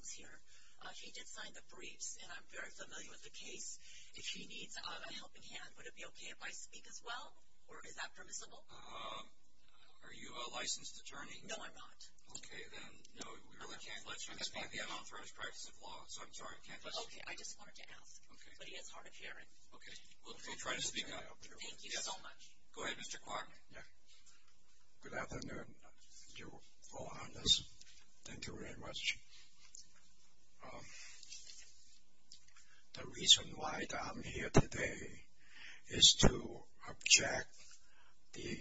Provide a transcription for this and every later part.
is here. He did sign the briefs, and I'm very familiar with the case. If he needs a helping hand, would it be okay if I speak as well? Or is that permissible? Are you a licensed attorney? No, I'm not. Okay, then. No, we really can't let you explain the unauthorized practice of law, so I'm sorry, I can't let you. Okay, I just wanted to ask. Okay. But he has hard of hearing. Okay. We'll try to speak out. Thank you so much. Go ahead, Mr. Kwok. Good afternoon, Your Honors. Thank you very much. The reason why I'm here today is to object the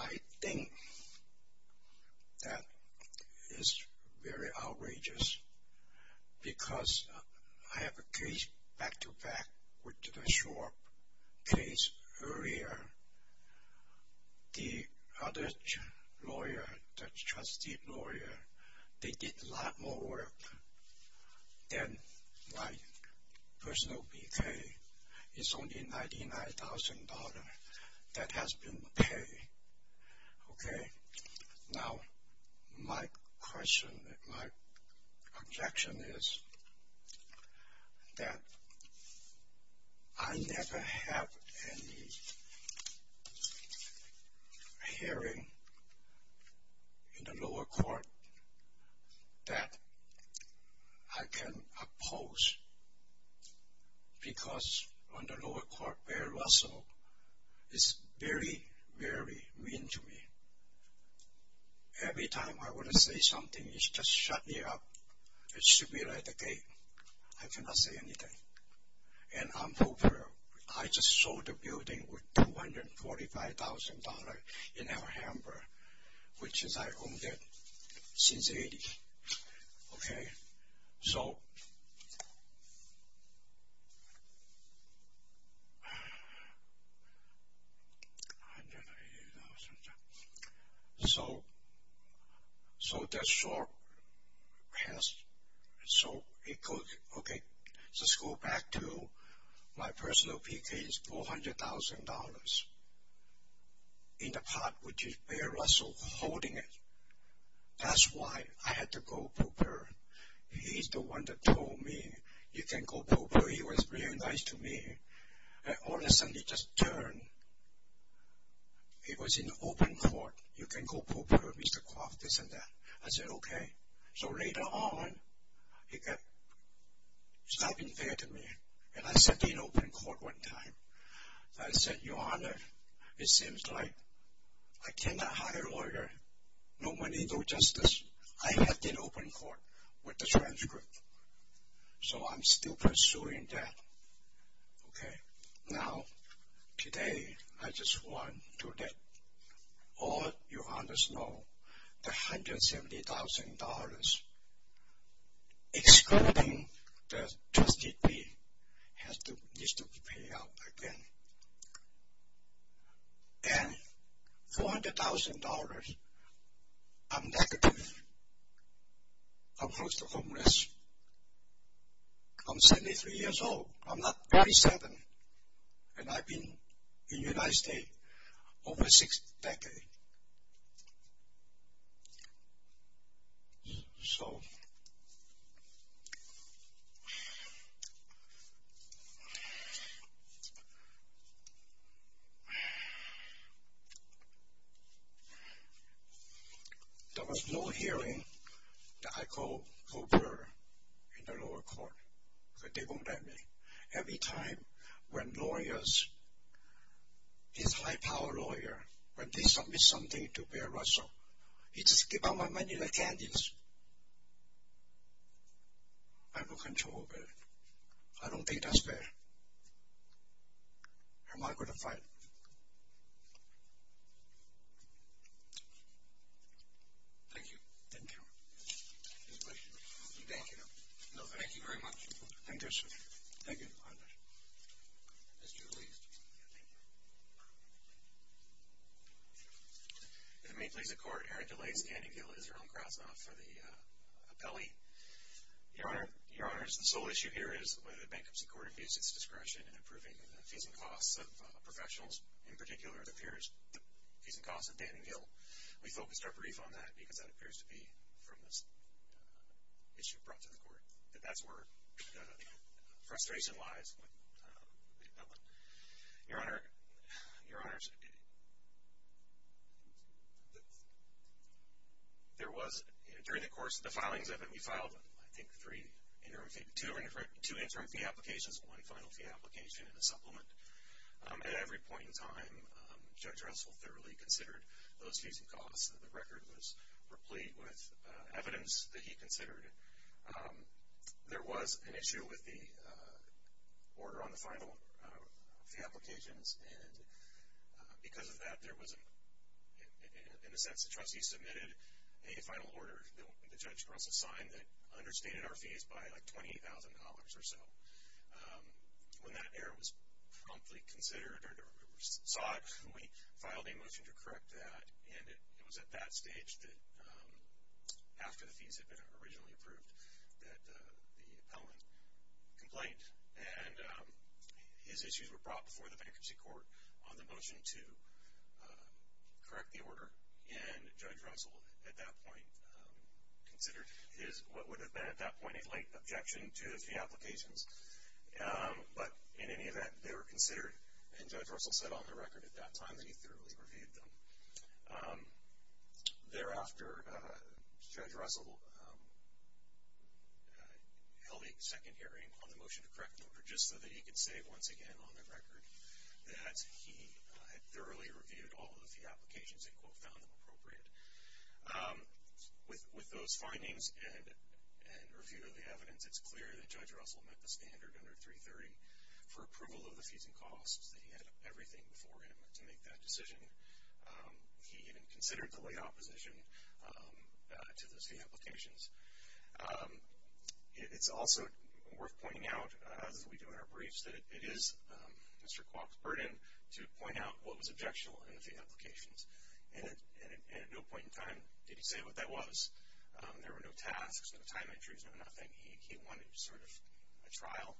right thing that is very outrageous, because I have a case back-to-back with the Schwab case. Earlier, the other lawyer, the trustee lawyer, they did a lot more work than my personal It's only $99,000 that has been paid. Okay? Now, my objection is that I never had any hearing in the lower court that I can oppose, because on the lower court, Bear Russell is very, very mean to me. Every time I want to say something, he just shuts me up. It should be like the gate. I cannot say anything. And I'm over it. I just sold the building for $245,000 in Alhambra, which I've owned since 1980. Okay? So, so the Schwab case, so it goes, okay, let's go back to my personal case, $400,000 in the pot, which is Bear Russell holding it. That's why I had to go to Burr. He's the one that told me, you can't go to Burr. He was really nice to me. And all of a sudden, he just turned. He was in open court. You can't go to Burr, Mr. Kwok, this and that. I said, okay. So later on, he kept stopping there to me. And I sat in open court one time. I said, Your Honor, it seems like I cannot hire a lawyer. No money, no justice. I have been open court with the transcript. So I'm still pursuing that. Okay? Now, today, I just want to let all Your Honors know, the $170,000, excluding the trustee fee, has to, needs to be paid out again. And $400,000, I'm negative. I'm close to homeless. I'm 73 years old. I'm not 87. And I've been in the United States over six decades. So, there was no hearing that I go to Burr in the lower court. But they won't let me. Every time when lawyers, these high-power lawyers, when they submit something to Burr Russell, he just gives out my money like candy. I have no control over it. I don't think that's fair. I'm not going to fight. Thank you. Thank you. Thank you. Thank you very much. Thank you, sir. Thank you. As you're released. Thank you. If it may please the court, Eric DeLay, standing guilty as Jerome Krasnoff for the appellee. Your Honor, Your Honors, the sole issue here is whether the bankruptcy court abused its discretion in approving the fees and costs of professionals. In particular, the fees and costs of Danning Hill. We focused our brief on that because that appears to be from this issue brought to the court. That's where the frustration lies with the appellant. Your Honor, Your Honors, there was, during the course of the filings of it, we filed, I think, two interim fee applications, one final fee application, and a supplement. At every point in time, Judge Russell thoroughly considered those fees and costs. The record was replete with evidence that he considered. There was an issue with the order on the final fee applications. And because of that, there was, in a sense, the trustee submitted a final order that Judge Russell signed that understated our fees by like $20,000 or so. When that error was promptly considered, or we saw it, we filed a motion to correct that. And it was at that stage that, after the fees had been originally approved, that the appellant complained. And his issues were brought before the bankruptcy court on the motion to correct the order. And Judge Russell, at that point, considered what would have been, at that point, a late objection to the fee applications. But in any event, they were considered. And Judge Russell said on the record at that time that he thoroughly reviewed them. Thereafter, Judge Russell held a second hearing on the motion to correct the order, just so that he could say once again on the record that he had thoroughly reviewed all of the fee applications and, quote, found them appropriate. With those findings and review of the evidence, it's clear that Judge Russell met the standard under 330 for approval of the fees and costs, that he had everything before him to make that decision. He even considered the late opposition to those fee applications. It's also worth pointing out, as we do in our briefs, that it is Mr. Kwok's burden to point out what was objectionable in the fee applications. And at no point in time did he say what that was. There were no tasks, no time entries, no nothing. He wanted sort of a trial,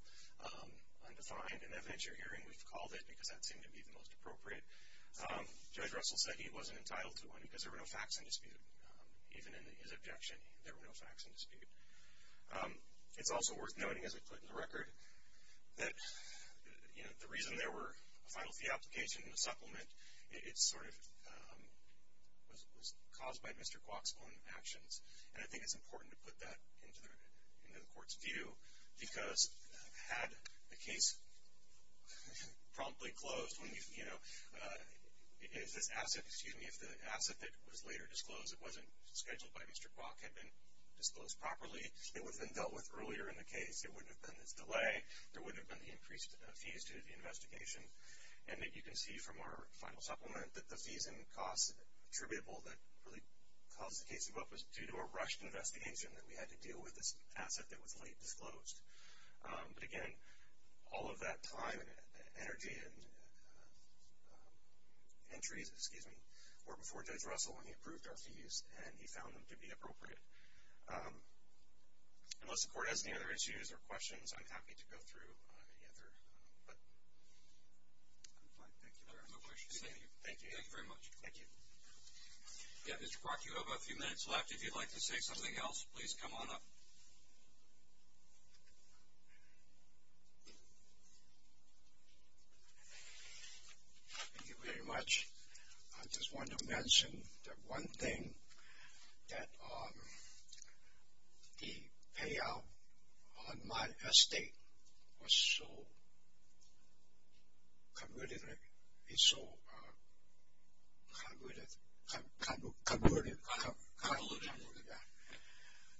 undefined, an evidentiary hearing, we've called it, because that seemed to be the most appropriate. Judge Russell said he wasn't entitled to one because there were no facts in dispute, even in his objection. There were no facts in dispute. It's also worth noting, as I put in the record, that the reason there were a final fee application and a supplement, it sort of was caused by Mr. Kwok's own actions. And I think it's important to put that into the court's view, because had the case promptly closed, if the asset that was later disclosed, it wasn't scheduled by Mr. Kwok, had been disclosed properly, it would have been dealt with earlier in the case. It wouldn't have been this delay. There wouldn't have been the increased fees due to the investigation. And you can see from our final supplement that the fees and costs attributable that really caused the case to go up was due to a rushed investigation that we had to deal with, this asset that was late disclosed. But, again, all of that time and energy and entries, excuse me, were before Judge Russell when he approved our fees and he found them to be appropriate. Unless the court has any other issues or questions, I'm happy to go through any other, but I'm fine. Thank you. No questions. Thank you. Thank you very much. Thank you. Yeah, Mr. Kwok, you have a few minutes left. If you'd like to say something else, please come on up. Thank you very much. I just want to mention the one thing that the payout on my estate was so convoluted. It's so convoluted. Converted, convoluted, yeah.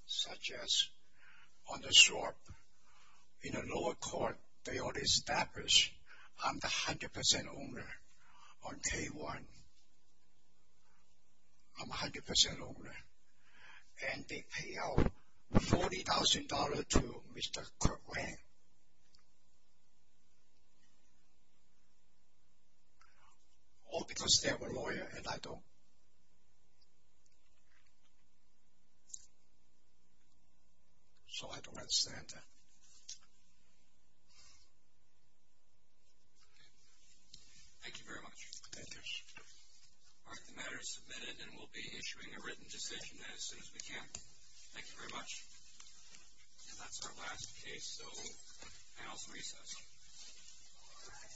Such as on the Schwab, in the lower court, they already established I'm the 100% owner on K1. I'm 100% owner. And they pay out $40,000 to Mr. Kirk Lang. I know. All because they're a lawyer and I don't. So I don't understand that. Okay. Thank you very much. Thank you. All right, the matter is submitted and we'll be issuing a written decision as soon as we can. Thank you very much. And that's our last case, so panel's recessed. All right.